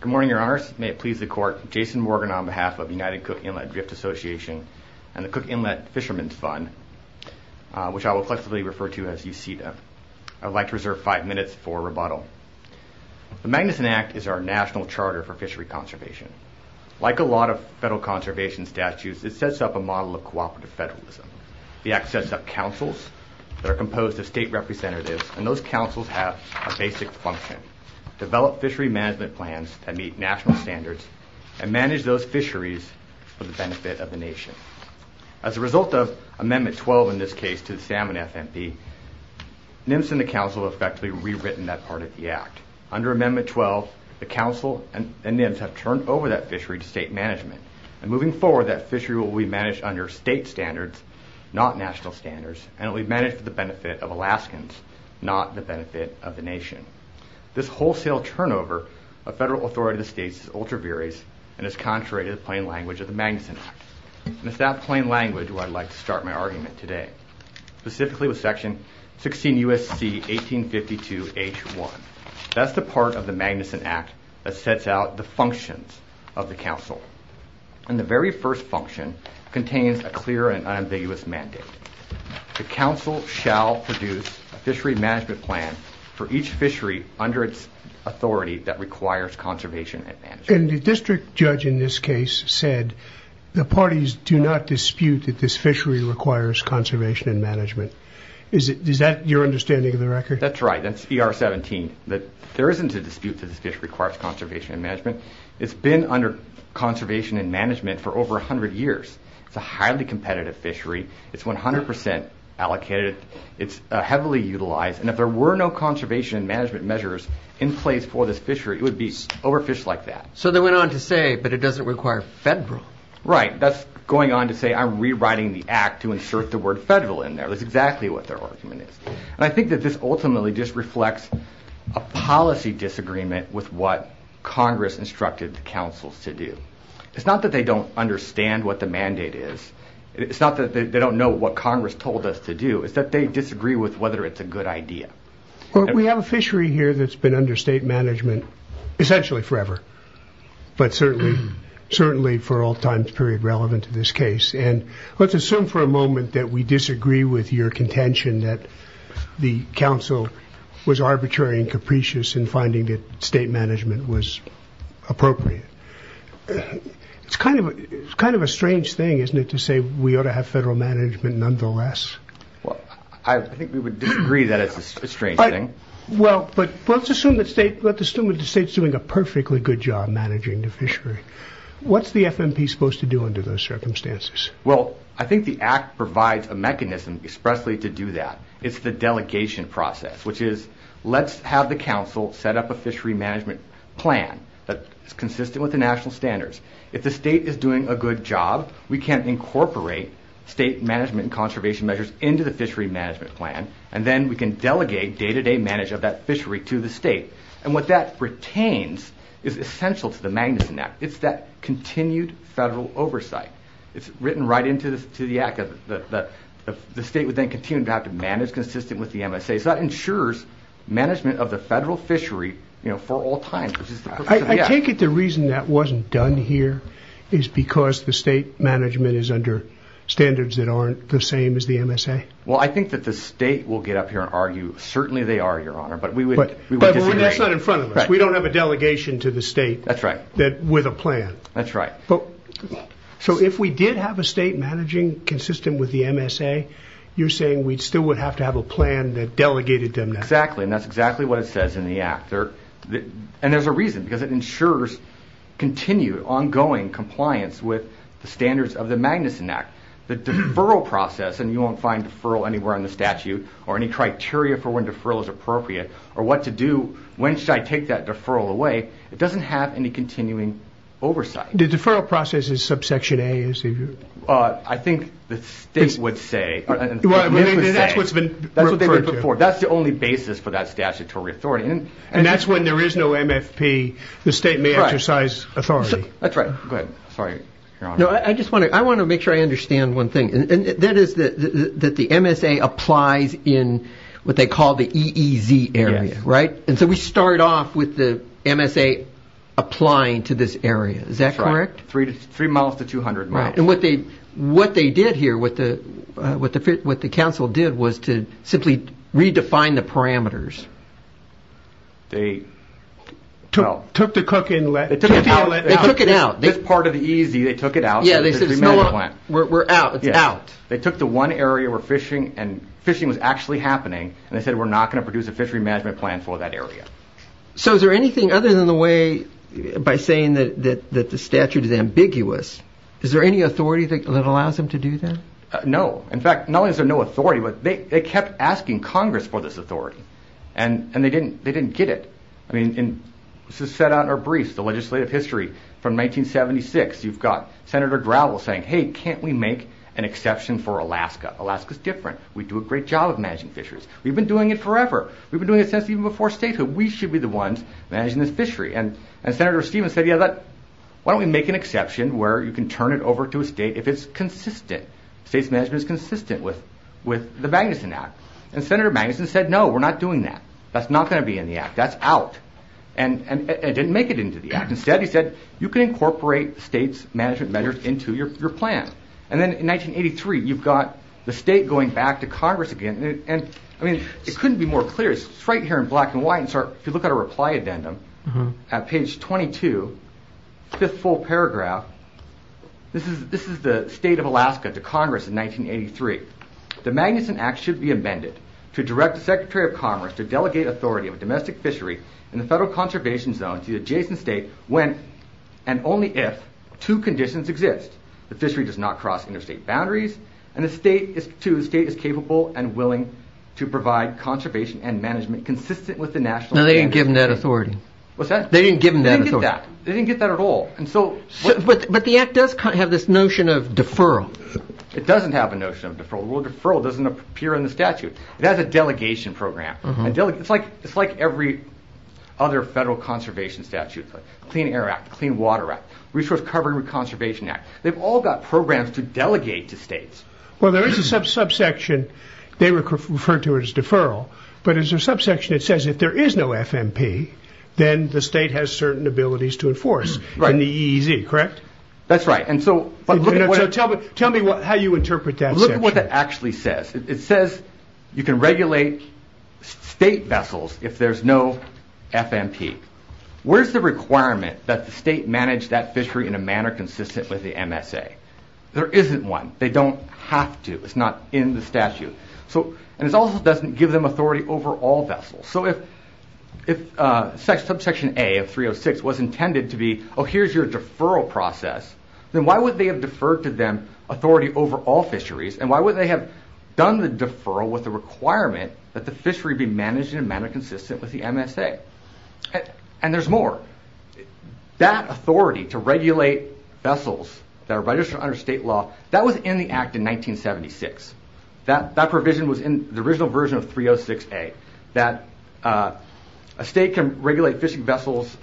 Good morning, your honors. May it please the court, Jason Morgan on behalf of the United Cook Inlet Drift Association and the Cook Inlet Fisherman's Fund, which I will flexibly refer to as UCEDA. I would like to reserve five minutes for rebuttal. The Magnuson Act is our national charter for fishery conservation. Like a lot of federal conservation statutes, it sets up a model of cooperative federalism. The act sets up councils that are composed of state representatives, and those councils have a basic function. Develop fishery management plans that meet national standards and manage those fisheries for the benefit of the nation. As a result of Amendment 12 in this case to the Salmon FMP, NMFS and the council effectively rewritten that part of the act. Under Amendment 12, the council and NMFS have turned over that fishery to state management. And moving forward, that fishery will be managed under state standards, not national standards, and it will be managed for the benefit of Alaskans, not the benefit of the nation. This wholesale turnover of federal authority to the states is ultra-various and is contrary to the plain language of the Magnuson Act. And it's that plain language where I'd like to start my argument today, specifically with Section 16 U.S.C. 1852 H.1. That's the part of the Magnuson Act that sets out the functions of the council. And the very first function contains a clear and unambiguous mandate. The council shall produce a fishery management plan for each fishery under its authority that requires conservation and management. And the district judge in this case said the parties do not dispute that this fishery requires conservation and management. Is that your understanding of the record? That's right. That's ER 17. There isn't a dispute that this fishery requires conservation and management. It's been under conservation and management for over 100 years. It's a highly competitive fishery. It's 100% allocated. It's heavily utilized. And if there were no conservation and management measures in place for this fishery, it would be overfished like that. So they went on to say, but it doesn't require federal. Right. That's going on to say I'm rewriting the act to insert the word federal in there. That's exactly what their argument is. And I think that this ultimately just reflects a policy disagreement with what Congress instructed the councils to do. It's not that they don't understand what the mandate is. It's not that they don't know what Congress told us to do. It's that they disagree with whether it's a good idea. We have a fishery here that's been under state management essentially forever, but certainly for all times period relevant to this case. And let's assume for a moment that we disagree with your contention that the council was arbitrary and capricious in finding that state management was appropriate. It's kind of a strange thing, isn't it, to say we ought to have federal management nonetheless? I think we would disagree that it's a strange thing. Well, but let's assume that the state's doing a perfectly good job managing the fishery. What's the FMP supposed to do under those circumstances? Well, I think the act provides a mechanism expressly to do that. It's the delegation process, which is let's have the council set up a fishery management plan that is consistent with the national standards. If the state is doing a good job, we can incorporate state management and conservation measures into the fishery management plan, and then we can delegate day-to-day management of that fishery to the state. And what that retains is essential to the Magnuson Act. It's that continued federal oversight. It's written right into the act that the state would then continue to have to manage consistent with the MSA. So that ensures management of the federal fishery for all times, which is the purpose of the act. I take it the reason that wasn't done here is because the state management is under standards that aren't the same as the MSA? Well, I think that the state will get up here and argue, certainly they are, Your Honor, but we would disagree. But that's not in front of us. We don't have a delegation to the state. That's right. With a plan. That's right. So if we did have a state managing consistent with the MSA, you're saying we'd still would have to have a plan that delegated them that? Exactly. And that's exactly what it says in the act. And there's a reason, because it ensures continued, ongoing compliance with the standards of the Magnuson Act. The deferral process, and you won't find deferral anywhere in the statute or any criteria for when deferral is appropriate or what to do, when should I take that deferral away? It doesn't have any continuing oversight. The deferral process is subsection A, is it? I think the state would say, that's what's been referred to. That's the only basis for that statutory authority. And that's when there is no MFP, the state may exercise authority. That's right. Go ahead. Sorry, Your Honor. I want to make sure I understand one thing, and that is that the MSA applies in what they call the EEZ area, right? And so we start off with the MSA applying to this area, is that correct? Three miles to 200 miles. And what they did here, what the council did was to simply redefine the parameters. They took the cooking outlet out, this part of the EEZ, they took it out, so the three miles went. We're out, it's out. They took the one area where fishing, and fishing was actually happening, and they said we're not going to produce a fishery management plan for that area. So is there anything other than the way, by saying that the statute is ambiguous, is there any authority that allows them to do that? No. In fact, not only is there no authority, but they kept asking Congress for this authority, and they didn't get it. I mean, this is set out in our briefs, the legislative history from 1976, you've got Senator Gravel saying, hey, can't we make an exception for Alaska? Alaska's different. We do a great job of managing fisheries. We've been doing it forever. We've been doing it since even before statehood. We should be the ones managing this fishery. And Senator Stevens said, yeah, why don't we make an exception where you can turn it over to a state if it's consistent, state's management is consistent with the Magnuson Act. And Senator Magnuson said, no, we're not doing that. That's not going to be in the Act. That's out. And it didn't make it into the Act. Instead, he said, you can incorporate state's management measures into your plan. And then in 1983, you've got the state going back to Congress again. And I mean, it couldn't be more clear. It's right here in black and white. And so if you look at a reply addendum at page 22, fifth full paragraph, this is the state of Alaska to Congress in 1983. The Magnuson Act should be amended to direct the Secretary of Commerce to delegate authority of a domestic fishery in the federal conservation zone to the adjacent state when and only if two conditions exist. The fishery does not cross interstate boundaries and the state is, too, the state is capable and willing to provide conservation and management consistent with the national plan. No, they didn't give them that authority. What's that? They didn't give them that authority. They didn't get that. They didn't get that at all. And so. But the Act does have this notion of deferral. It doesn't have a notion of deferral. The word deferral doesn't appear in the statute. It has a delegation program. It's like every other federal conservation statute, Clean Air Act, Clean Water Act, Resource Covering Conservation Act. They've all got programs to delegate to states. Well, there is a subsection they refer to as deferral. But as a subsection, it says if there is no FMP, then the state has certain abilities to enforce. Right. In the EEZ, correct? That's right. And so. Tell me how you interpret that. Look at what that actually says. It says you can regulate state vessels if there's no FMP. Where's the requirement that the state manage that fishery in a manner consistent with the MSA? There isn't one. They don't have to. It's not in the statute. So and it also doesn't give them authority over all vessels. So if subsection A of 306 was intended to be, oh, here's your deferral process, then why would they have deferred to them authority over all fisheries? And why would they have done the deferral with the requirement that the fishery be managed in a manner consistent with the MSA? And there's more. That authority to regulate vessels that are registered under state law, that was in the act in 1976. That provision was in the original version of 306A, that a state can regulate fishing vessels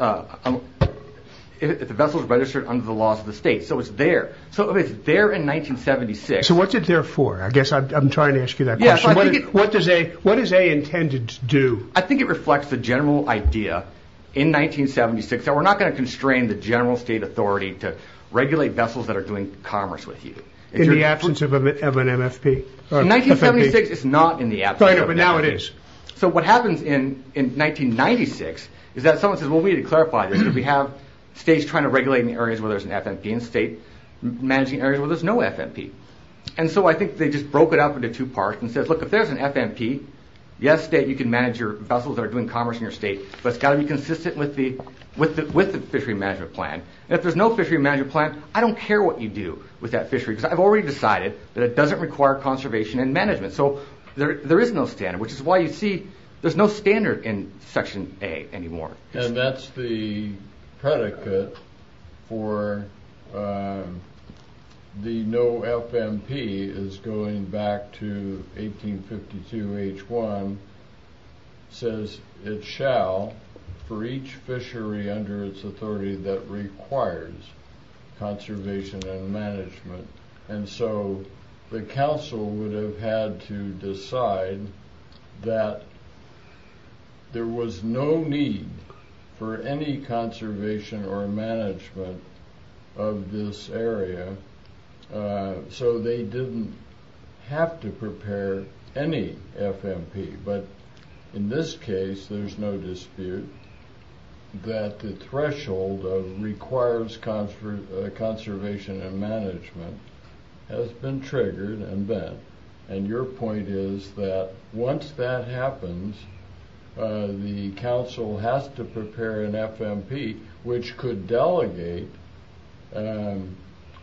if the vessels are registered under the laws of the state. So it was there. So it was there in 1976. So what's it there for? I guess I'm trying to ask you that question. What does A intended to do? I think it reflects the general idea in 1976 that we're not going to constrain the general state authority to regulate vessels that are doing commerce with you. In the absence of an MFP? In 1976, it's not in the absence of an MFP. But now it is. So what happens in 1996 is that someone says, well, we need to clarify this. If we have states trying to regulate in the areas where there's an FMP and state managing areas where there's no FMP. And so I think they just broke it up into two parts and said, look, if there's an FMP, yes, state, you can manage your vessels that are doing commerce in your state, but it's got to be consistent with the fishery management plan. And if there's no fishery management plan, I don't care what you do with that fishery because I've already decided that it doesn't require conservation and management. So there is no standard, which is why you see there's no standard in Section A anymore. And that's the predicate for the no FMP is going back to 1852 H1 says it shall for each fishery under its authority that requires conservation and management. And so the council would have had to decide that there was no need for any conservation or management of this area. So they didn't have to prepare any FMP, but in this case, there's no dispute that the FMP has been triggered and bent. And your point is that once that happens, the council has to prepare an FMP, which could delegate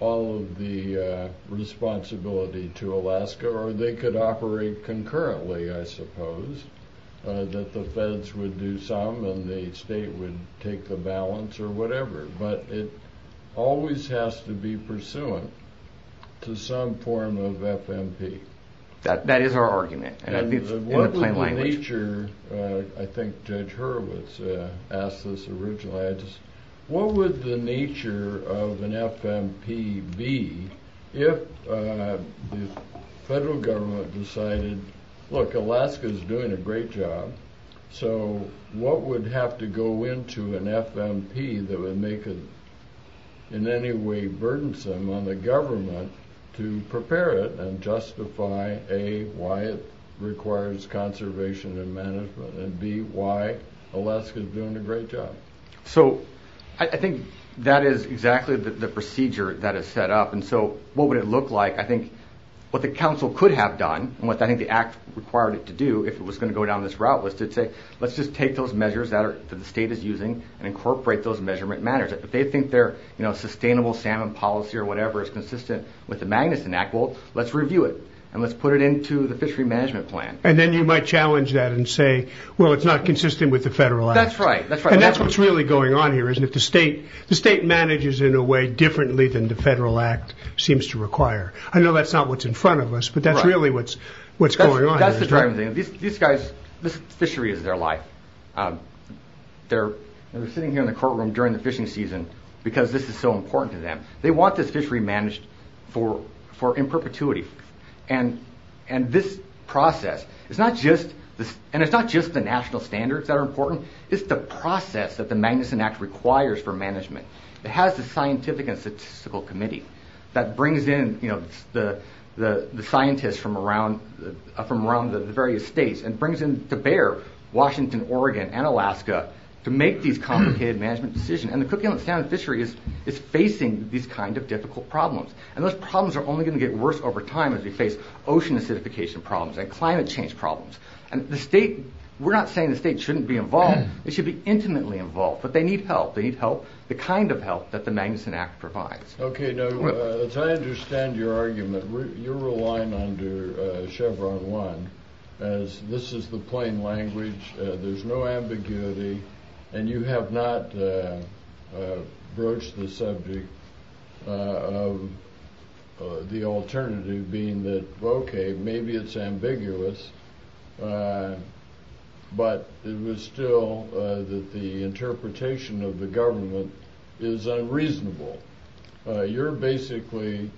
all of the responsibility to Alaska, or they could operate concurrently, I suppose, that the feds would do some and the state would take the balance or whatever. But it always has to be pursuant to some form of FMP. That is our argument. And what would the nature, I think Judge Hurwitz asked this originally, what would the nature of an FMP be if the federal government decided, look, Alaska is doing a great job. So what would have to go into an FMP that would make it in any way burdensome on the government to prepare it and justify A, why it requires conservation and management and B, why Alaska is doing a great job? So I think that is exactly the procedure that is set up. And so what would it look like? I think what the council could have done and what I think the act required it to do if it was going to go down this route was to say, let's just take those measures that the state is using and incorporate those measurement matters. If they think their sustainable salmon policy or whatever is consistent with the Magnuson Act, well, let's review it and let's put it into the fishery management plan. And then you might challenge that and say, well, it's not consistent with the federal act. That's right. And that's what's really going on here, isn't it? The state manages in a way differently than the federal act seems to require. I know that's not what's in front of us, but that's really what's going on. That's the driving thing. These guys, this fishery is their life. They're sitting here in the courtroom during the fishing season because this is so important to them. They want this fishery managed in perpetuity. And this process, it's not just the national standards that are important, it's the process that the Magnuson Act requires for management. It has the scientific and statistical committee that brings in the scientists from around the various states and brings in to bear Washington, Oregon, and Alaska to make these complicated management decisions. And the Cook Island Standard Fishery is facing these kind of difficult problems. And those problems are only going to get worse over time as we face ocean acidification problems and climate change problems. And the state, we're not saying the state shouldn't be involved, it should be intimately involved, but they need help. They need help, the kind of help that the Magnuson Act provides. Okay, now, as I understand your argument, you're relying on Chevron One as this is the plain language, there's no ambiguity, and you have not broached the subject of the alternative being that, okay, maybe it's ambiguous, but it was still that the interpretation of the You're basically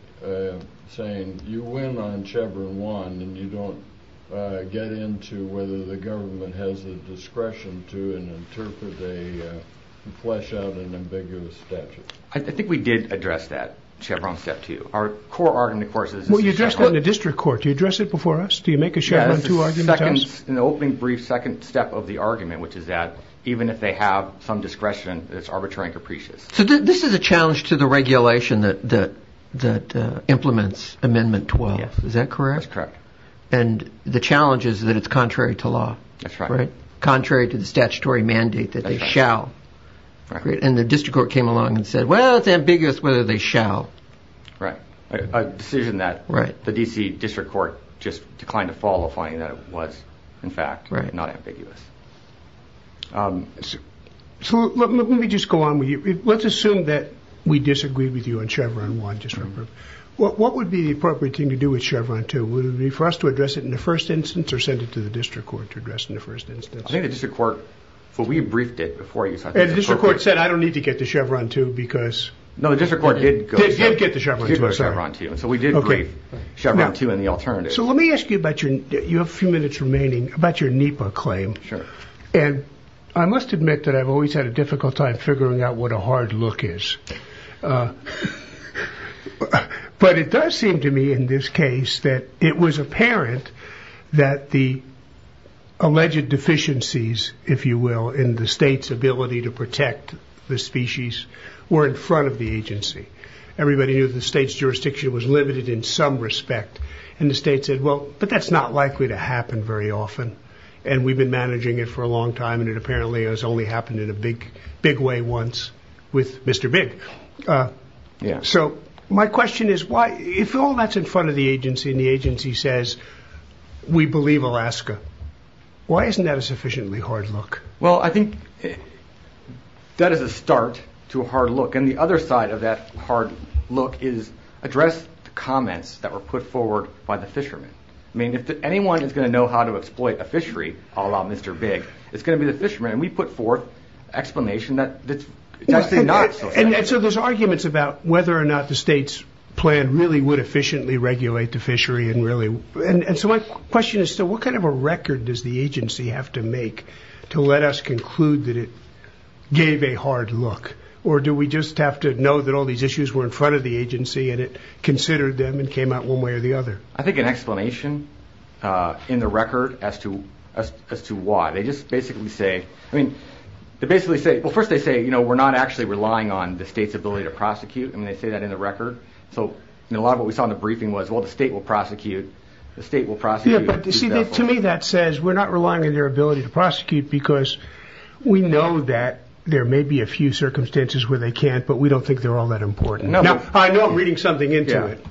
saying you went on Chevron One and you don't get into whether the government has the discretion to interpret a flesh-out and ambiguous statute. I think we did address that, Chevron Step Two. Our core argument, of course, is this is Chevron One. Well, you addressed it in the district court. Do you address it before us? Do you make a Chevron Two argument? Yeah, that's the second, in the opening brief, second step of the argument, which is that even if they have some discretion, it's arbitrary and capricious. So this is a challenge to the regulation that implements Amendment 12, is that correct? That's correct. And the challenge is that it's contrary to law, contrary to the statutory mandate that they shall, and the district court came along and said, well, it's ambiguous whether they shall. Right. A decision that the D.C. district court just declined to follow, finding that it was, in fact, not ambiguous. So let me just go on with you. Let's assume that we disagreed with you on Chevron One. What would be the appropriate thing to do with Chevron Two? Would it be for us to address it in the first instance, or send it to the district court to address it in the first instance? I think the district court, we briefed it before you, so I think it's appropriate. And the district court said, I don't need to get the Chevron Two, because- No, the district court did go- Did get the Chevron Two, sorry. Did get the Chevron Two, and so we did brief Chevron Two and the alternative. So let me ask you about your, you have a few minutes remaining, about your NEPA claim. And I must admit that I've always had a difficult time figuring out what a hard look is. But it does seem to me, in this case, that it was apparent that the alleged deficiencies, if you will, in the state's ability to protect the species, were in front of the agency. Everybody knew the state's jurisdiction was limited in some respect. And the state said, well, but that's not likely to happen very often. And we've been managing it for a long time, and it apparently has only happened in a big way once with Mr. Big. So my question is, if all that's in front of the agency, and the agency says, we believe Alaska, why isn't that a sufficiently hard look? Well I think that is a start to a hard look. And the other side of that hard look is address the comments that were put forward by the fishermen. I mean, if anyone is going to know how to exploit a fishery, a la Mr. Big, it's going to be the fishermen. And we put forth an explanation that it's actually not so bad. And so there's arguments about whether or not the state's plan really would efficiently regulate the fishery and really, and so my question is still, what kind of a record does the agency have to make to let us conclude that it gave a hard look? Or do we just have to know that all these issues were in front of the agency, and it considered them and came out one way or the other? I think an explanation in the record as to why, they just basically say, I mean, they basically say, well first they say, you know, we're not actually relying on the state's ability to prosecute. I mean, they say that in the record. So a lot of what we saw in the briefing was, well, the state will prosecute, the state will prosecute. Yeah, but you see, to me that says, we're not relying on their ability to prosecute because we know that there may be a few circumstances where they can't, but we don't think they're all that important. Now, I know I'm reading something into it.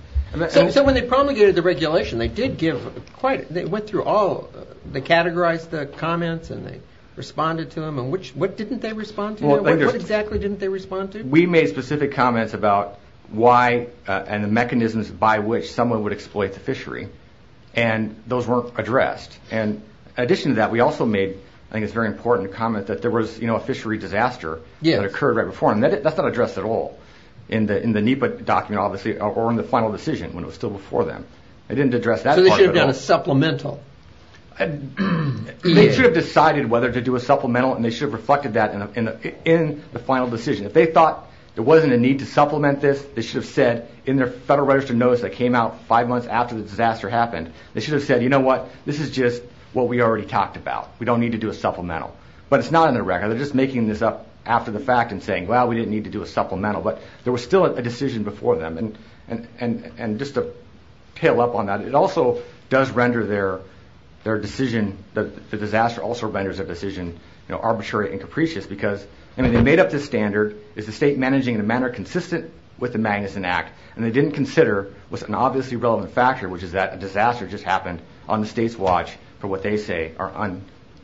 So when they promulgated the regulation, they did give quite, they went through all, they categorized the comments and they responded to them, and which, what didn't they respond to? What exactly didn't they respond to? We made specific comments about why, and the mechanisms by which someone would exploit the fishery, and those weren't addressed. And in addition to that, we also made, I think it's very important to comment that there was, you know, a fishery disaster that occurred right before, and that's not addressed at all in the NEPA document, obviously, or in the final decision when it was still before them. They didn't address that part at all. So they should have done a supplemental. They should have decided whether to do a supplemental, and they should have reflected that in the final decision. If they thought there wasn't a need to supplement this, they should have said in their federal register notice that came out five months after the disaster happened, they should have said, you know what, this is just what we already talked about. We don't need to do a supplemental. But it's not in their record. They're just making this up after the fact and saying, well, we didn't need to do a supplemental, but there was still a decision before them. And just to tail up on that, it also does render their decision, the disaster also renders their decision, you know, arbitrary and capricious because, I mean, they made up this standard, is the state managing in a manner consistent with the Magnuson Act, and they didn't consider was an obviously relevant factor, which is that a disaster just happened on the state's watch for what they say are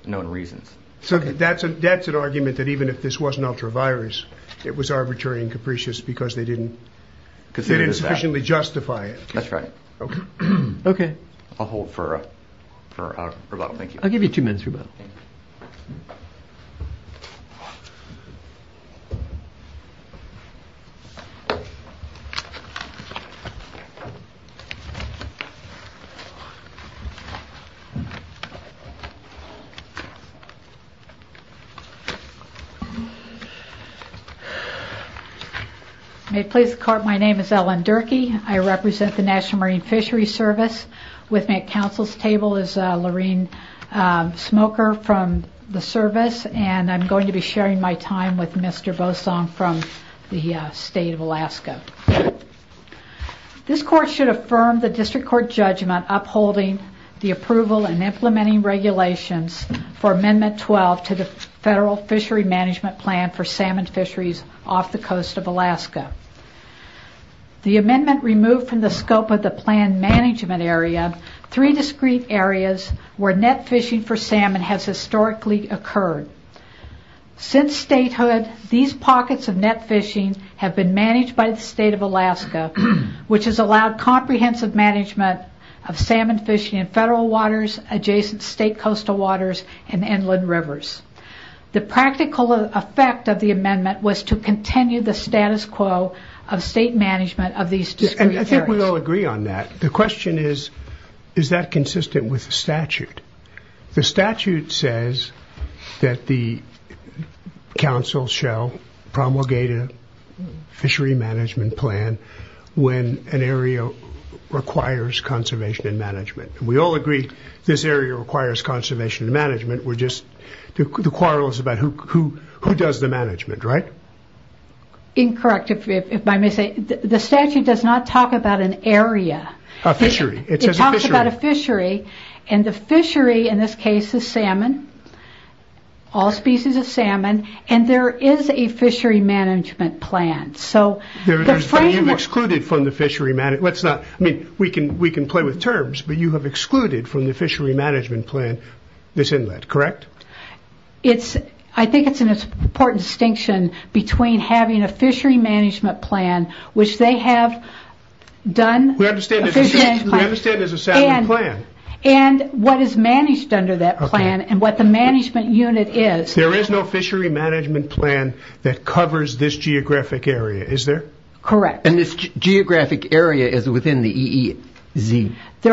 unknown reasons. So that's an argument that even if this wasn't ultra-virus, it was arbitrary and capricious because they didn't sufficiently justify it. That's right. Okay. Okay. I'll hold for rebuttal. Thank you. I'll give you two minutes rebuttal. Okay. May it please the court, my name is Ellen Durkee. I represent the National Marine Fishery Service. With me at council's table is Lorene Smoker from the service, and I'm going to be sharing my time with Mr. Bosong from the state of Alaska. This court should affirm the district court judgment upholding the approval and implementing regulations for Amendment 12 to the Federal Fishery Management Plan for salmon fisheries off the coast of Alaska. The amendment removed from the scope of the plan management area three discrete areas where net fishing for salmon has historically occurred. Since statehood, these pockets of net fishing have been managed by the state of Alaska, which has allowed comprehensive management of salmon fishing in federal waters, adjacent state coastal waters, and inland rivers. The practical effect of the amendment was to continue the status quo of state management of these discrete areas. I think we all agree on that. The question is, is that consistent with the statute? The statute says that the council shall promulgate a fishery management plan when an area requires conservation and management. We all agree this area requires conservation and management. The quarrel is about who does the management, right? Incorrect, if I may say. The statute does not talk about an area. A fishery. It says a fishery. It talks about a fishery. The fishery in this case is salmon, all species of salmon, and there is a fishery management plan. There is, but you've excluded from the fishery. We can play with terms, but you have excluded from the fishery management plan this inlet, correct? I think it's an important distinction between having a fishery management plan, which they have done. We understand it's a salmon plan. What is managed under that plan, and what the management unit is. There is no fishery management plan that covers this geographic area, is there? Correct. This geographic area is within the EEZ. The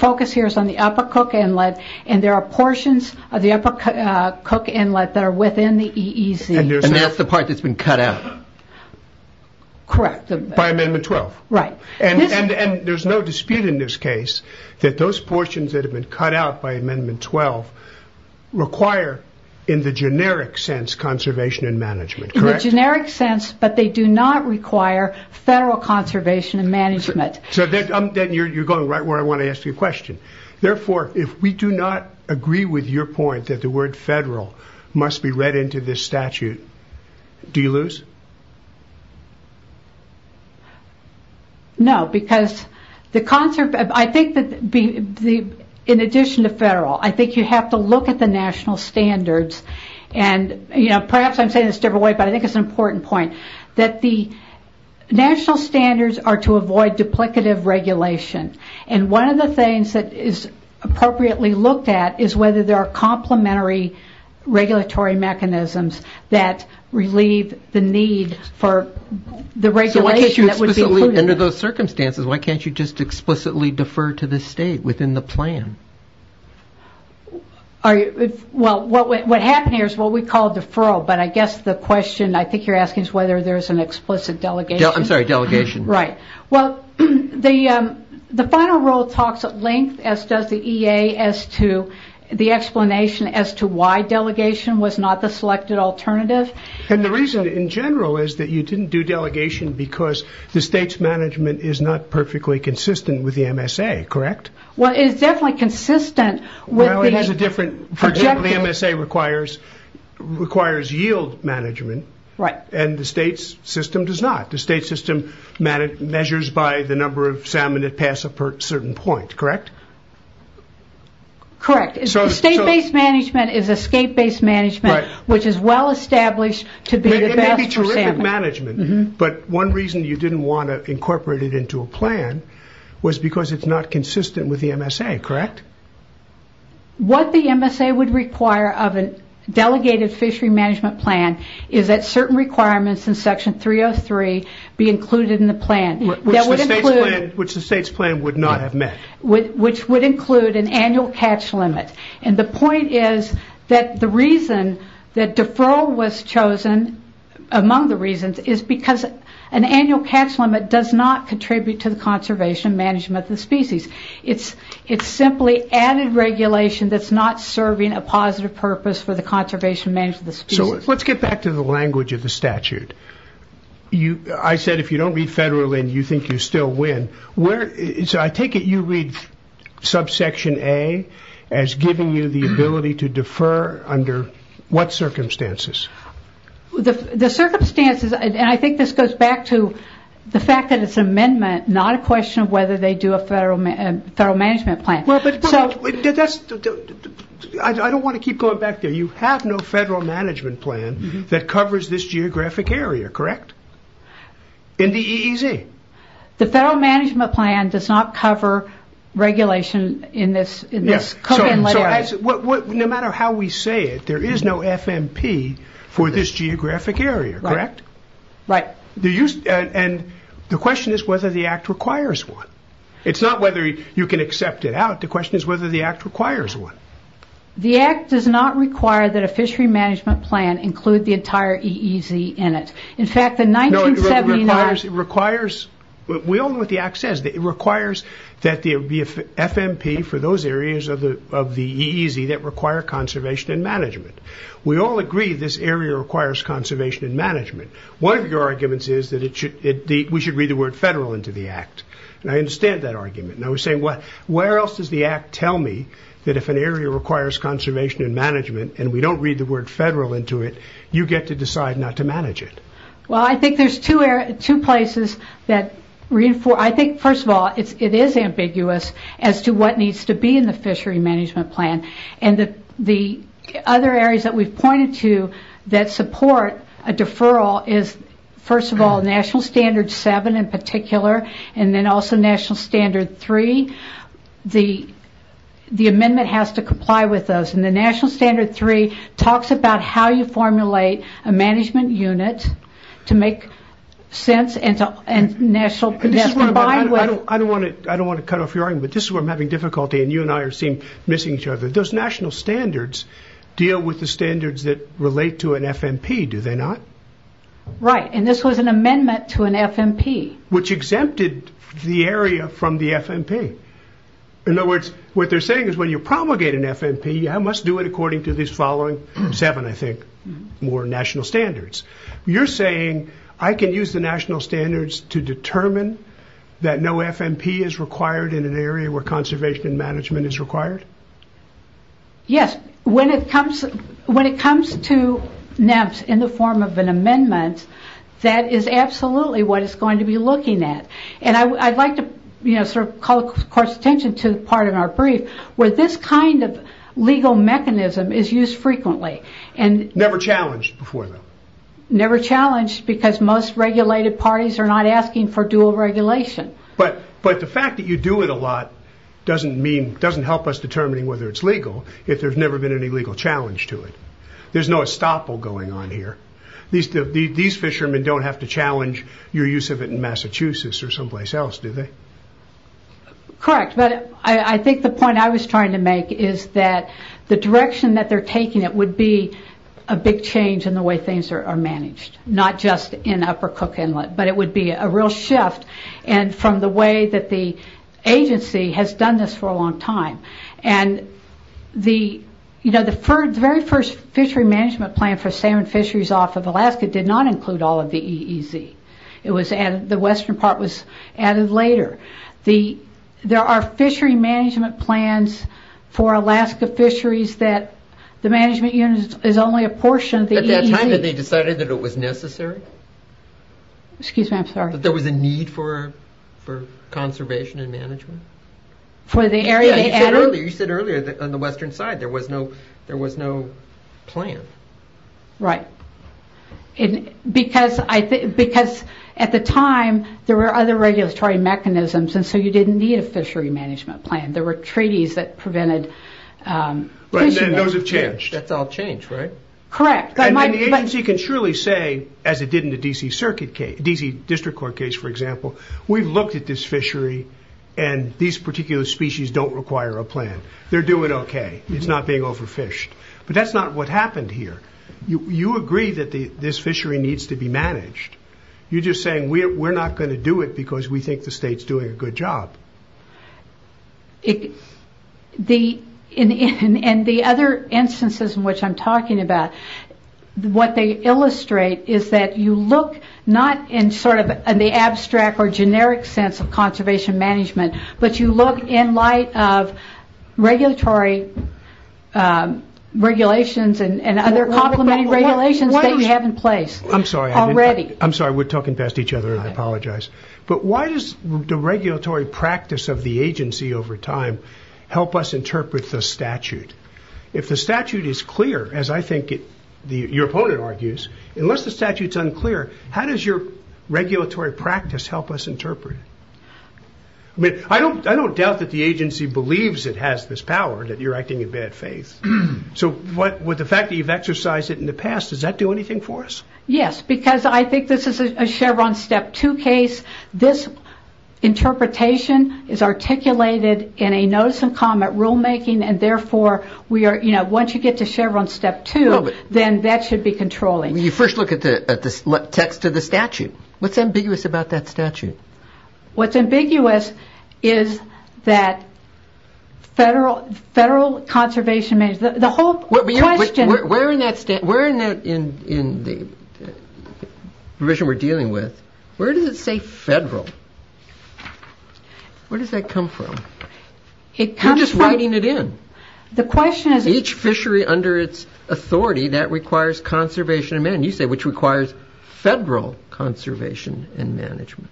focus here is on the upper Cook Inlet, and there are portions of the upper Cook Inlet that are within the EEZ. That's the part that's been cut out? Correct. By Amendment 12? Right. There's no dispute in this case that those portions that have been cut out by Amendment 12 require, in the generic sense, conservation and management, correct? In the generic sense, but they do not require federal conservation and management. You're going right where I want to ask you a question. Therefore, if we do not agree with your point that the word federal must be read into this statute, do you lose? No, because the concept... In addition to federal, I think you have to look at the national standards. Perhaps I'm saying this in a different way, but I think it's an important point, that the national standards are to avoid duplicative regulation. One of the things that is appropriately looked at is whether there are complementary regulatory mechanisms that relieve the need for the regulation that would be included. Under those circumstances, why can't you just explicitly defer to the state within the plan? What happened here is what we call deferral, but I guess the question I think you're asking is whether there's an explicit delegation. I'm sorry, delegation. Right. Well, the final rule talks at length, as does the EA, as to the explanation as to why delegation was not the selected alternative. The reason in general is that you didn't do delegation because the state's management is not perfectly consistent with the MSA, correct? Well, it is definitely consistent with the... Well, it is a different... Projected. The MSA requires yield management. Right. The state's system does not. The state's system measures by the number of salmon that pass a certain point, correct? Correct. The state-based management is a state-based management, which is well-established to be the best for salmon. It may be terrific management, but one reason you didn't want to incorporate it into a plan was because it's not consistent with the MSA, correct? What the MSA would require of a delegated fishery management plan is that certain requirements in section 303 be included in the plan. Which the state's plan would not have met. Which would include an annual catch limit. The point is that the reason that deferral was chosen among the reasons is because an annual catch limit does not contribute to the conservation management of the species. It's simply added regulation that's not serving a positive purpose for the conservation management of the species. Let's get back to the language of the statute. I said if you don't read federal in, you think you still win. I take it you read subsection A as giving you the ability to defer under what circumstances? The circumstances, and I think this goes back to the fact that it's an amendment, not a question of whether they do a federal management plan. I don't want to keep going back there. You have no federal management plan that covers this geographic area, correct? In the EEZ? The federal management plan does not cover regulation in this coven-led area. No matter how we say it, there is no FMP for this geographic area, correct? The question is whether the act requires one. It's not whether you can accept it out. The question is whether the act requires one. The act does not require that a fishery management plan include the entire EEZ in it. In fact, the 1979... We all know what the act says. It requires that there be a FMP for those areas of the EEZ that require conservation and management. We all agree this area requires conservation and management. One of your arguments is that we should read the word federal into the act, and I understand that argument. I was saying, where else does the act tell me that if an area requires conservation and management and we don't read the word federal into it, you get to decide not to manage it? I think there's two places that reinforce... I think, first of all, it is ambiguous as to what needs to be in the fishery management plan. The other areas that we've pointed to that support a deferral is, first of all, National Standard 3. The amendment has to comply with those. The National Standard 3 talks about how you formulate a management unit to make sense and national... I don't want to cut off your argument, but this is where I'm having difficulty and you and I are missing each other. Those national standards deal with the standards that relate to an FMP, do they not? Right. This was an amendment to an FMP. Which exempted the area from the FMP. In other words, what they're saying is when you promulgate an FMP, you must do it according to these following seven, I think, more national standards. You're saying I can use the national standards to determine that no FMP is required in an area where conservation and management is required? Yes. When it comes to NEMPS in the form of an amendment, that is absolutely what is going to be looked at. I'd like to call the court's attention to the part in our brief where this kind of legal mechanism is used frequently. Never challenged before then. Never challenged because most regulated parties are not asking for dual regulation. The fact that you do it a lot doesn't help us determining whether it's legal if there's never been any legal challenge to it. There's no estoppel going on here. These fishermen don't have to challenge your use of it in Massachusetts or someplace else, do they? Correct. I think the point I was trying to make is that the direction that they're taking it would be a big change in the way things are managed. Not just in Upper Cook Inlet, but it would be a real shift from the way that the agency has done this for a long time. The very first fishery management plan for salmon fisheries off of Alaska did not include all of the EEZ. The western part was added later. There are fishery management plans for Alaska fisheries that the management unit is only a portion of the EEZ. At that time, did they decide that it was necessary? Excuse me, I'm sorry. There was a need for conservation and management? You said earlier that on the western side, there was no plan. Right, because at the time, there were other regulatory mechanisms, and so you didn't need a fishery management plan. There were treaties that prevented fishermen. Then those have changed. That's all changed, right? Correct. Then the agency can surely say, as it did in the D.C. District Court case, for example, we've looked at this fishery, and these particular species don't require a plan. They're doing okay. It's not being overfished. That's not what happened here. You agree that this fishery needs to be managed. You're just saying we're not going to do it because we think the state's doing a good job. The other instances in which I'm talking about, what they illustrate is that you look not in the abstract or generic sense of conservation management, but you look in light of regulatory regulations and other complementing regulations that you have in place already. I'm sorry. I'm sorry. We're talking past each other. I apologize. Why does the regulatory practice of the agency over time help us interpret the statute? If the statute is clear, as I think your opponent argues, unless the statute's unclear, how does your regulatory practice help us interpret it? I don't doubt that the agency believes it has this power that you're acting in bad faith. With the fact that you've exercised it in the past, does that do anything for us? Yes, because I think this is a Chevron Step 2 case. This interpretation is articulated in a notice and comment rulemaking, and therefore, once you get to Chevron Step 2, then that should be controlling. You first look at the text of the statute. What's ambiguous about that statute? What's ambiguous is that federal conservation management, the whole question... Where in the provision we're dealing with, where does it say federal? Where does that come from? It comes from... You're just writing it in. The question is... Each fishery under its authority, that requires conservation and management. You say, which requires federal conservation and management.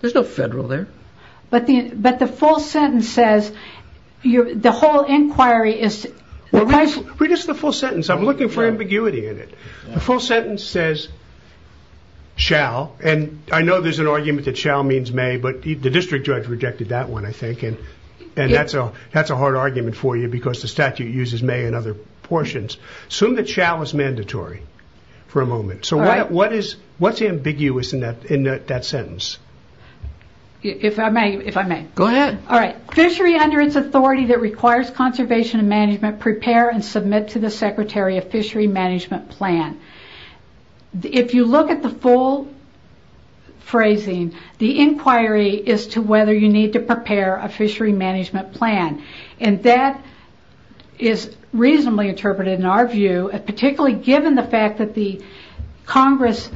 There's no federal there. But the full sentence says, the whole inquiry is... Read us the full sentence. I'm looking for ambiguity in it. The full sentence says, shall, and I know there's an argument that shall means may, but the district judge rejected that one, I think, and that's a hard argument for you because the statute uses may in other portions. Assume that shall is mandatory for a moment. What's ambiguous in that sentence? If I may. Go ahead. All right. Fishery under its authority that requires conservation and management, prepare and submit to the secretary a fishery management plan. If you look at the full phrasing, the inquiry is to whether you need to prepare a fishery management plan. That is reasonably interpreted in our view, particularly given the fact that the Congress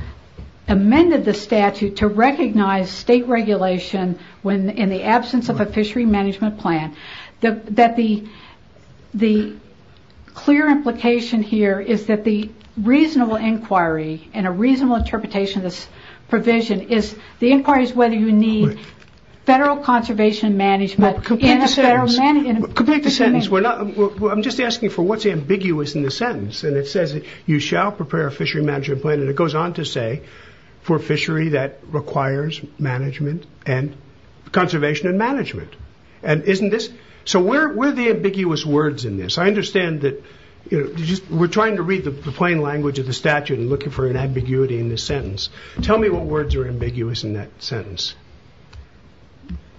amended the statute to recognize state regulation in the absence of a fishery management plan. That the clear implication here is that the reasonable inquiry and a reasonable interpretation of this provision is, the inquiry is whether you need federal conservation and management Complete the sentence. Complete the sentence. I'm just asking for what's ambiguous in the sentence, and it says you shall prepare a fishery management plan, and it goes on to say for fishery that requires management and conservation and management, and isn't this... So where are the ambiguous words in this? I understand that we're trying to read the plain language of the statute and looking for an ambiguity in the sentence. Tell me what words are ambiguous in that sentence.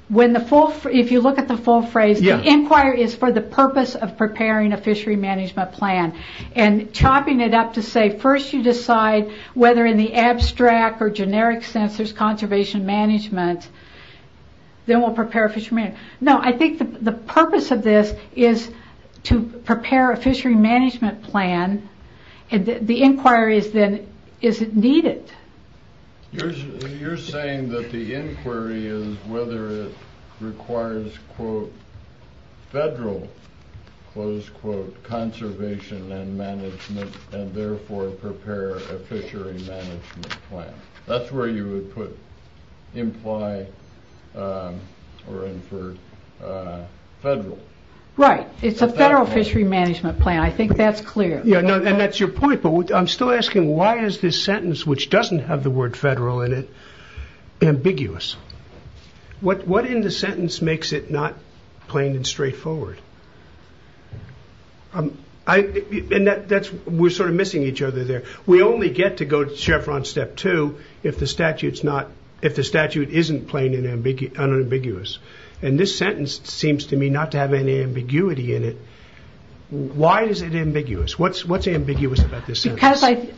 If you look at the full phrase, the inquiry is for the purpose of preparing a fishery management plan, and chopping it up to say first you decide whether in the abstract or generic sense there's conservation management, then we'll prepare a fishery management plan. No, I think the purpose of this is to prepare a fishery management plan, and the inquiry is then, is it needed? You're saying that the inquiry is whether it requires, quote, federal, close quote, conservation and management, and therefore prepare a fishery management plan. That's where you would put imply or infer federal. Right. It's a federal fishery management plan. I think that's clear. And that's your point, but I'm still asking why is this sentence, which doesn't have the word federal in it, ambiguous? What in the sentence makes it not plain and straightforward? We're sort of missing each other there. We only get to go to chevron step two if the statute isn't plain and unambiguous, and this sentence seems to me not to have any ambiguity in it. Why is it ambiguous? What's ambiguous about this sentence?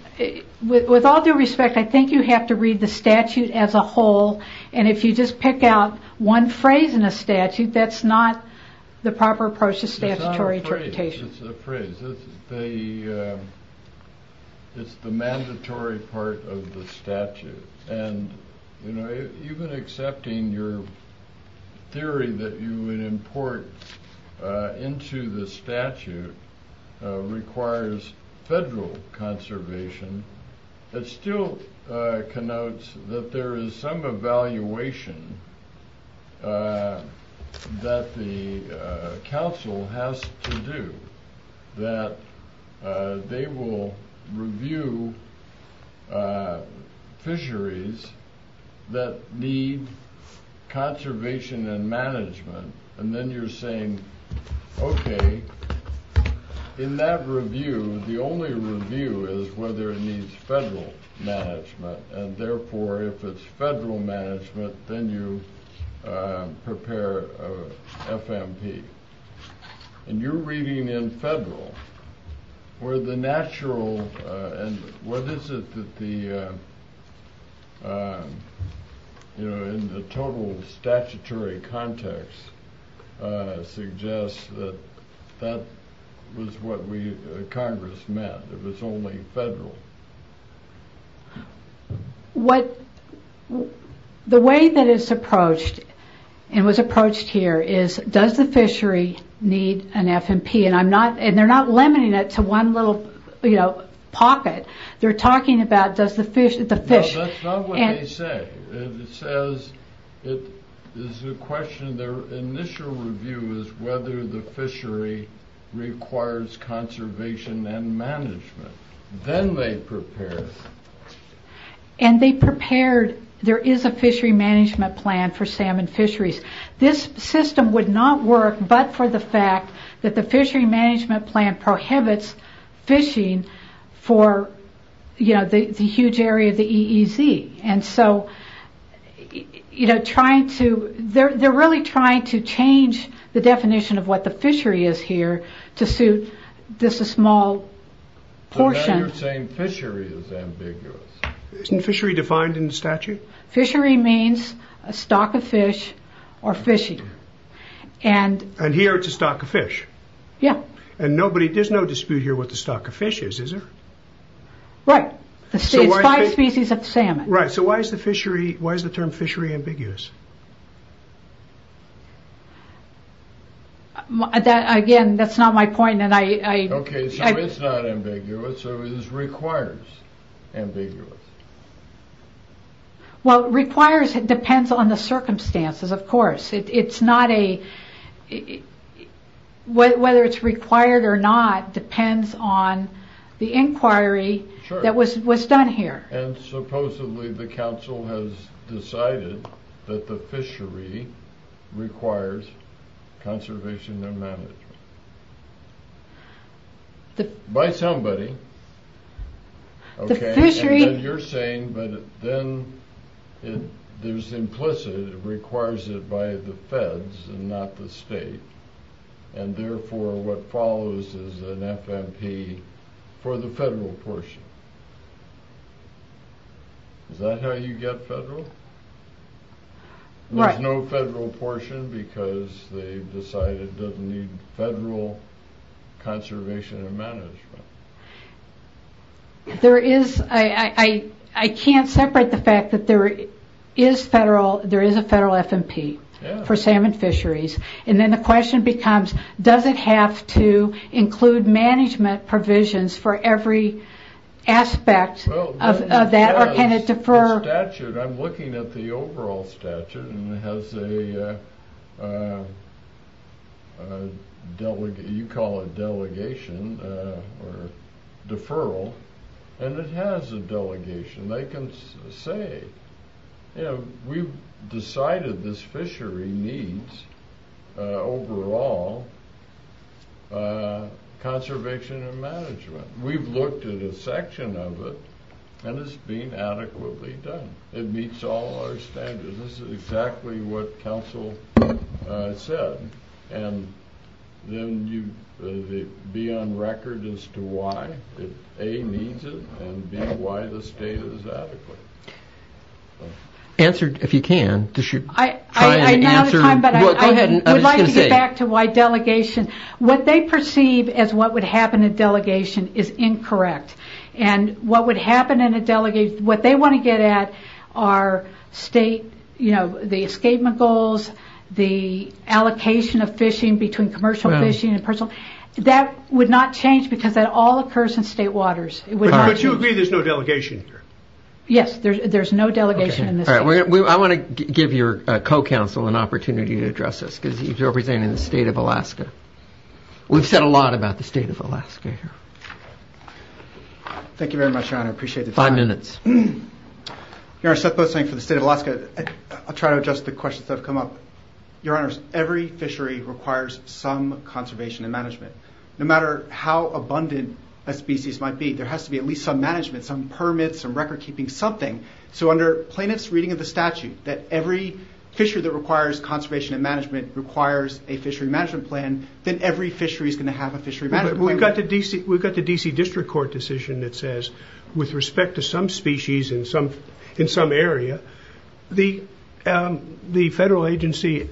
With all due respect, I think you have to read the statute as a whole, and if you just pick out one phrase in a statute, that's not the proper approach to statutory interpretation. It's not a phrase, it's a phrase. It's the mandatory part of the statute, and even accepting your theory that you would report into the statute requires federal conservation, it still connotes that there is some evaluation that the council has to do, that they will review fisheries that need conservation and management, and then you're saying, okay, in that review, the only review is whether it needs federal management, and therefore, if it's federal management, then you prepare a FMP. And you're reading in federal, where the natural, and what is it that the, you know, in the total statutory context suggests that that was what we, Congress meant, it was only federal. What, the way that it's approached, and was approached here, is does the fishery need an FMP, and I'm not, and they're not limiting it to one little, you know, pocket. They're talking about does the fish, the fish... No, that's not what they say. It says, it is a question, their initial review is whether the fishery requires conservation and management. Then they prepared... And they prepared, there is a fishery management plan for salmon fisheries. This system would not work but for the fact that the fishery management plan prohibits fishing for, you know, the huge area of the EEZ. And so, you know, trying to, they're really trying to change the definition of what the fishery is here to suit just a small portion... So now you're saying fishery is ambiguous. Isn't fishery defined in the statute? Fishery means a stock of fish or fishing, and... And here it's a stock of fish? Yeah. And nobody, there's no dispute here what the stock of fish is, is there? Right, it's five species of salmon. Right, so why is the fishery, why is the term fishery ambiguous? Again, that's not my point and I... Okay, so it's not ambiguous, so it is requires ambiguous. Well, requires depends on the circumstances, of course. It's not a, whether it's required or not depends on the inquiry that was done here. And supposedly the council has decided that the fishery requires conservation and management. By somebody. The fishery... Okay, and then you're saying, but then there's implicit, it requires it by the feds and not the state. And therefore what follows is an FMP for the federal portion. Is that how you get federal? Right. There's no federal portion because they've decided it doesn't need federal conservation and management. There is, I can't separate the fact that there is federal, there is a federal FMP for salmon fisheries. And then the question becomes, does it have to include management provisions for every aspect of that or can it defer? The statute, I'm looking at the overall statute and it has a delegation, you call it delegation or deferral, and it has a delegation. They can say, you know, we've decided this fishery needs overall conservation and management. We've looked at a section of it and it's been adequately done. It meets all our standards. This is exactly what council said. And then you, the be on record as to why A, needs it, and B, why the state is adequate. Answer if you can. I know the time, but I would like to get back to why delegation. What they perceive as what would happen in delegation is incorrect. And what would happen in a delegation, what they want to get at are state, you know, the escapement goals, the allocation of fishing between commercial fishing and personal. That would not change because that all occurs in state waters. But you agree there's no delegation here? Yes, there's no delegation in this state. I want to give your co-counsel an opportunity to address this because he's representing the state of Alaska. We've said a lot about the state of Alaska here. Thank you very much, your honor. I appreciate the time. Five minutes. Your honor, Seth Boatswain for the state of Alaska. I'll try to adjust the questions that have come up. Your honors, every fishery requires some conservation and management. No matter how abundant a species might be, there has to be at least some management, some permits, some record keeping, something. So under plaintiff's reading of the statute that every fishery that requires conservation and management requires a fishery management plan, then every fishery is going to have a fishery management plan. We've got the D.C. District Court decision that says with respect to some species in some area, the federal agency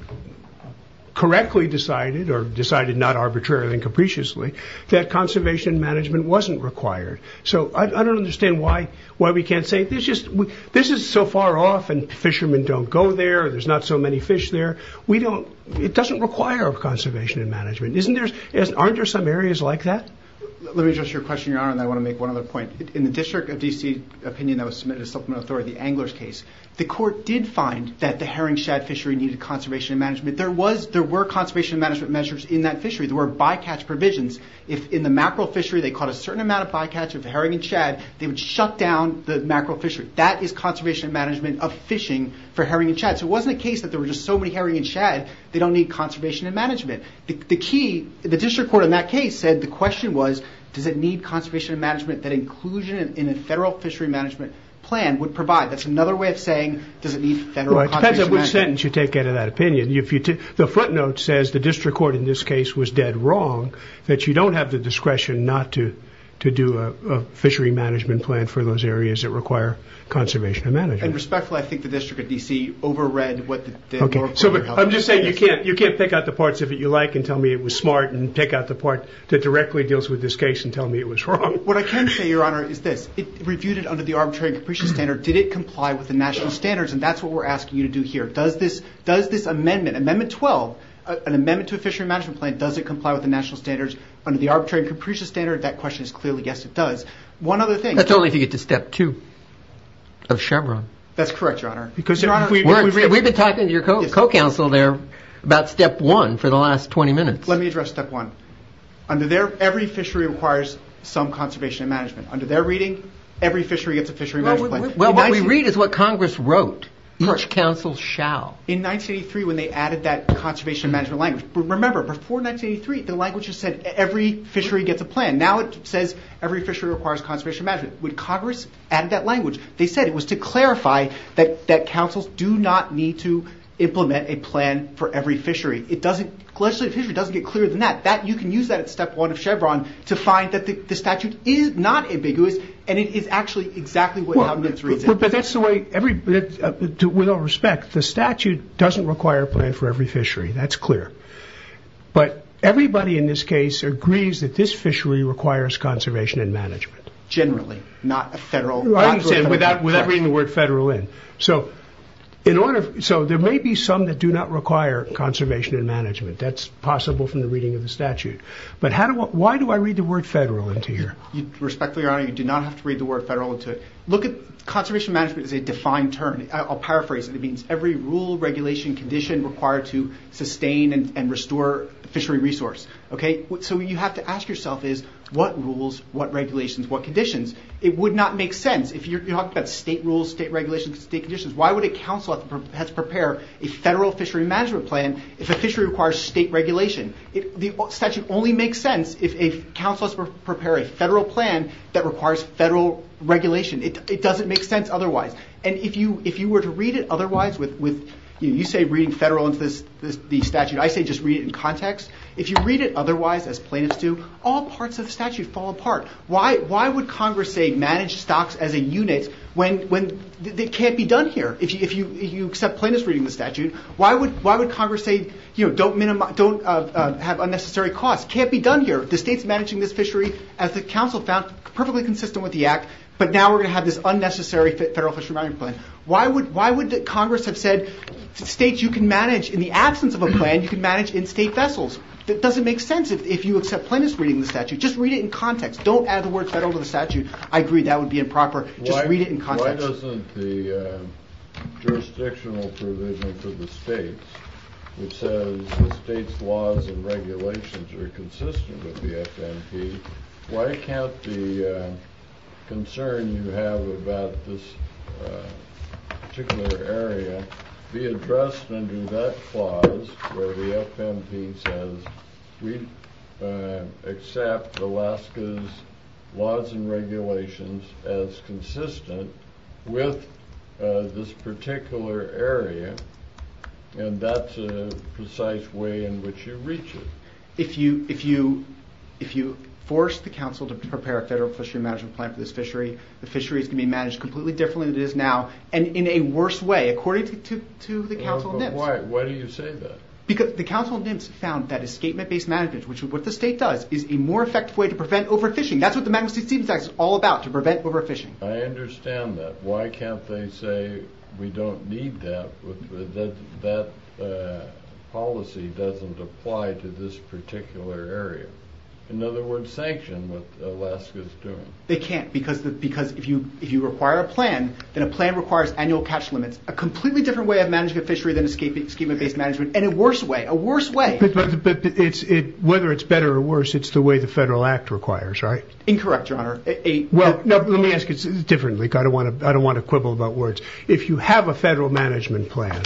correctly decided or decided not arbitrarily and capriciously that conservation management wasn't required. So I don't understand why we can't say this is so far off and fishermen don't go there. There's not so many fish there. It doesn't require conservation and management. Aren't there some areas like that? Let me address your question, your honor, and I want to make one other point. In the District of D.C. opinion that was submitted to supplement authority, the angler's case, the court did find that the herring shad fishery needed conservation management. There were conservation management measures in that fishery. There were bycatch provisions. If in the mackerel fishery they caught a certain amount of bycatch of herring and shad, they would shut down the mackerel fishery. That is conservation management of fishing for herring and shad. So it wasn't a case that there were just so many herring and shad, they don't need conservation and management. The key, the District Court in that case said the question was, does it need conservation and management that inclusion in a federal fishery management plan would provide? That's another way of saying, does it need federal conservation management? It depends on which sentence you take out of that opinion. The front note says the District Court in this case was dead wrong that you don't have the discretion not to do a fishery management plan for those areas that require conservation and management. And respectfully, I think the District of D.C. over-read what the moral of the story is. I'm just saying you can't pick out the parts of it you like and tell me it was smart and pick out the part that directly deals with this case and tell me it was wrong. What I can say, your honor, is this. It reviewed it under the arbitrary and capricious standard. Did it comply with the national standards? And that's what we're asking you to do here. Does this amendment, Amendment 12, an amendment to a fishery management plan, does it comply with the national standards under the arbitrary and capricious standard? That question is clearly yes, it does. One other thing. That's only if you get to Step 2 of Chevron. That's correct, your honor. We've been talking to your co-counsel there about Step 1 for the last 20 minutes. Let me address Step 1. Under there, every fishery requires some conservation and management. Under their reading, every fishery gets a fishery management plan. Well, what we read is what Congress wrote. Each council shall. In 1983, when they added that conservation management language. Remember, before 1983, the language just said every fishery gets a plan. Now it says every fishery requires conservation management. When Congress added that language, they said it was to clarify that councils do not need to implement a plan for every fishery. It doesn't, legislative fishery doesn't get clearer than that. You can use that at Step 1 of Chevron to find that the statute is not ambiguous and it is actually exactly what Congress reads. But that's the way, with all respect, the statute doesn't require a plan for every fishery. That's clear. But everybody in this case agrees that this fishery requires conservation and management. Generally, not a federal. I understand, without reading the word federal in. So there may be some that do not require conservation and management. That's possible from the reading of the statute. But why do I read the word federal into here? Respectfully, Your Honor, you do not have to read the word federal into it. Look at conservation management as a defined term. I'll paraphrase it. It means every rule, regulation, condition required to sustain and restore fishery resource. Okay? So what you have to ask yourself is what rules, what regulations, what conditions? It would not make sense. If you're talking about state rules, state regulations, state conditions, why would a council have to prepare a federal fishery management plan if a fishery requires state regulation? The statute only makes sense if a council has to prepare a federal plan that requires federal regulation. It doesn't make sense otherwise. And if you were to read it otherwise, you say reading federal into the statute. I say just read it in context. If you read it otherwise, as plaintiffs do, all parts of the statute fall apart. Why would Congress say manage stocks as a unit when it can't be done here? If you accept plaintiffs reading the statute, why would Congress say don't have unnecessary costs? It can't be done here. The state's managing this fishery, as the council found, perfectly consistent with the act, but now we're going to have this unnecessary federal fishery management plan. Why would Congress have said states, you can manage in the absence of a plan, you can manage in state vessels? Just read it in context. Don't add the word federal to the statute. I agree that would be improper. Just read it in context. Why doesn't the jurisdictional provision for the states, which says the state's laws and regulations are consistent with the FMP, why can't the concern you have about this particular area be addressed under that clause where the FMP says we accept Alaska's laws and regulations as consistent with this particular area and that's a precise way in which you reach it? If you force the council to prepare a federal fishery management plan for this fishery, the fishery is going to be managed completely differently than it is now, and in a worse way, according to the Council of NIMS. Why do you say that? Because the Council of NIMS found that escapement-based management, which is what the state does, is a more effective way to prevent overfishing. That's what the Magnitsky-Stevens Act is all about, to prevent overfishing. I understand that. Why can't they say we don't need that, that that policy doesn't apply to this particular area? In other words, sanction what Alaska's doing. They can't, because if you require a plan, then a plan requires annual catch limits, a completely different way of managing a fishery than escapement-based management, and a worse way, a worse way. But whether it's better or worse, it's the way the federal act requires, right? Incorrect, Your Honor. Well, let me ask it differently, because I don't want to quibble about words. If you have a federal management plan,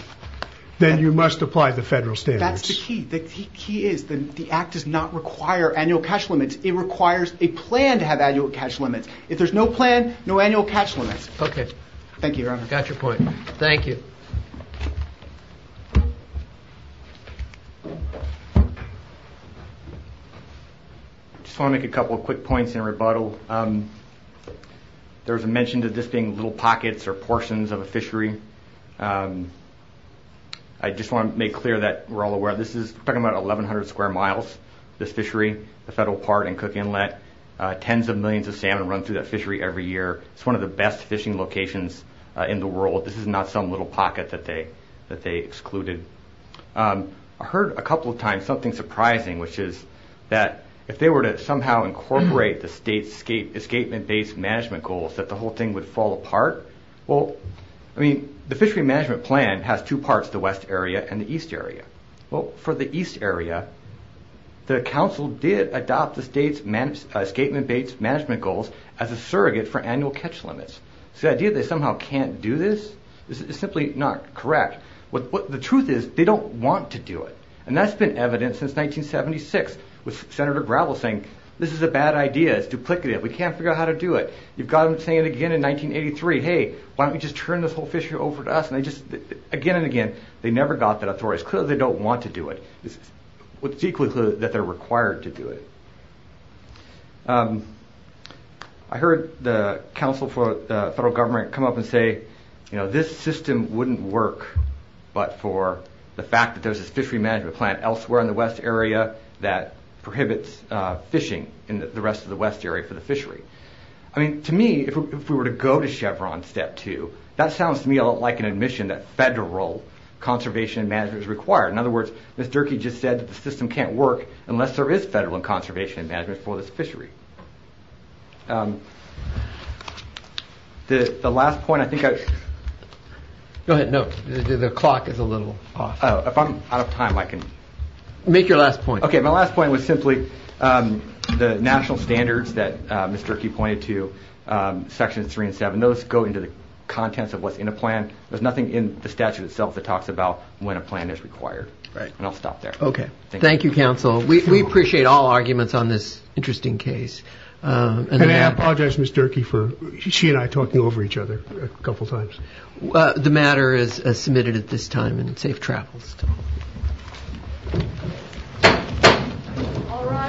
then you must apply the federal standards. That's the key. The key is the act does not require annual catch limits. It requires a plan to have annual catch limits. If there's no plan, no annual catch limits. Okay. Thank you, Your Honor. Got your point. Thank you. I just want to make a couple of quick points in rebuttal. There was a mention of this being little pockets or portions of a fishery. I just want to make clear that we're all aware this is talking about 1,100 square miles, this fishery, the federal park and cooking inlet. Tens of millions of salmon run through that fishery every year. It's one of the best fishing locations in the world. This is not some little pocket that they excluded. I heard a couple of times something surprising, which is that if they were to somehow incorporate the state's escapement-based management goals, that the whole thing would fall apart. Well, I mean, the fishery management plan has two parts, the west area and the east area. Well, for the east area, the council did adopt the state's escapement-based management goals as a surrogate for annual catch limits. The idea that they somehow can't do this is simply not correct. The truth is they don't want to do it, and that's been evident since 1976 with Senator Gravel saying, this is a bad idea, it's duplicative, we can't figure out how to do it. You've got them saying it again in 1983, hey, why don't you just turn this whole fishery over to us? Again and again, they never got that authority. It's clear they don't want to do it. It's equally clear that they're required to do it. I heard the council for the federal government come up and say, you know, this system wouldn't work but for the fact that there's this fishery management plan elsewhere in the west area that prohibits fishing in the rest of the west area for the fishery. I mean, to me, if we were to go to Chevron step two, that sounds to me like an admission that federal conservation management is required. In other words, Ms. Durkee just said that the system can't work unless there is federal conservation management for this fishery. The last point I think I – Go ahead, no, the clock is a little off. Oh, if I'm out of time, I can – Make your last point. Okay, my last point was simply the national standards that Ms. Durkee pointed to, sections three and seven. Those go into the contents of what's in a plan. There's nothing in the statute itself that talks about when a plan is required. Right. And I'll stop there. Okay. Thank you, counsel. We appreciate all arguments on this interesting case. And I apologize, Ms. Durkee, for she and I talking over each other a couple times. The matter is submitted at this time and safe travels.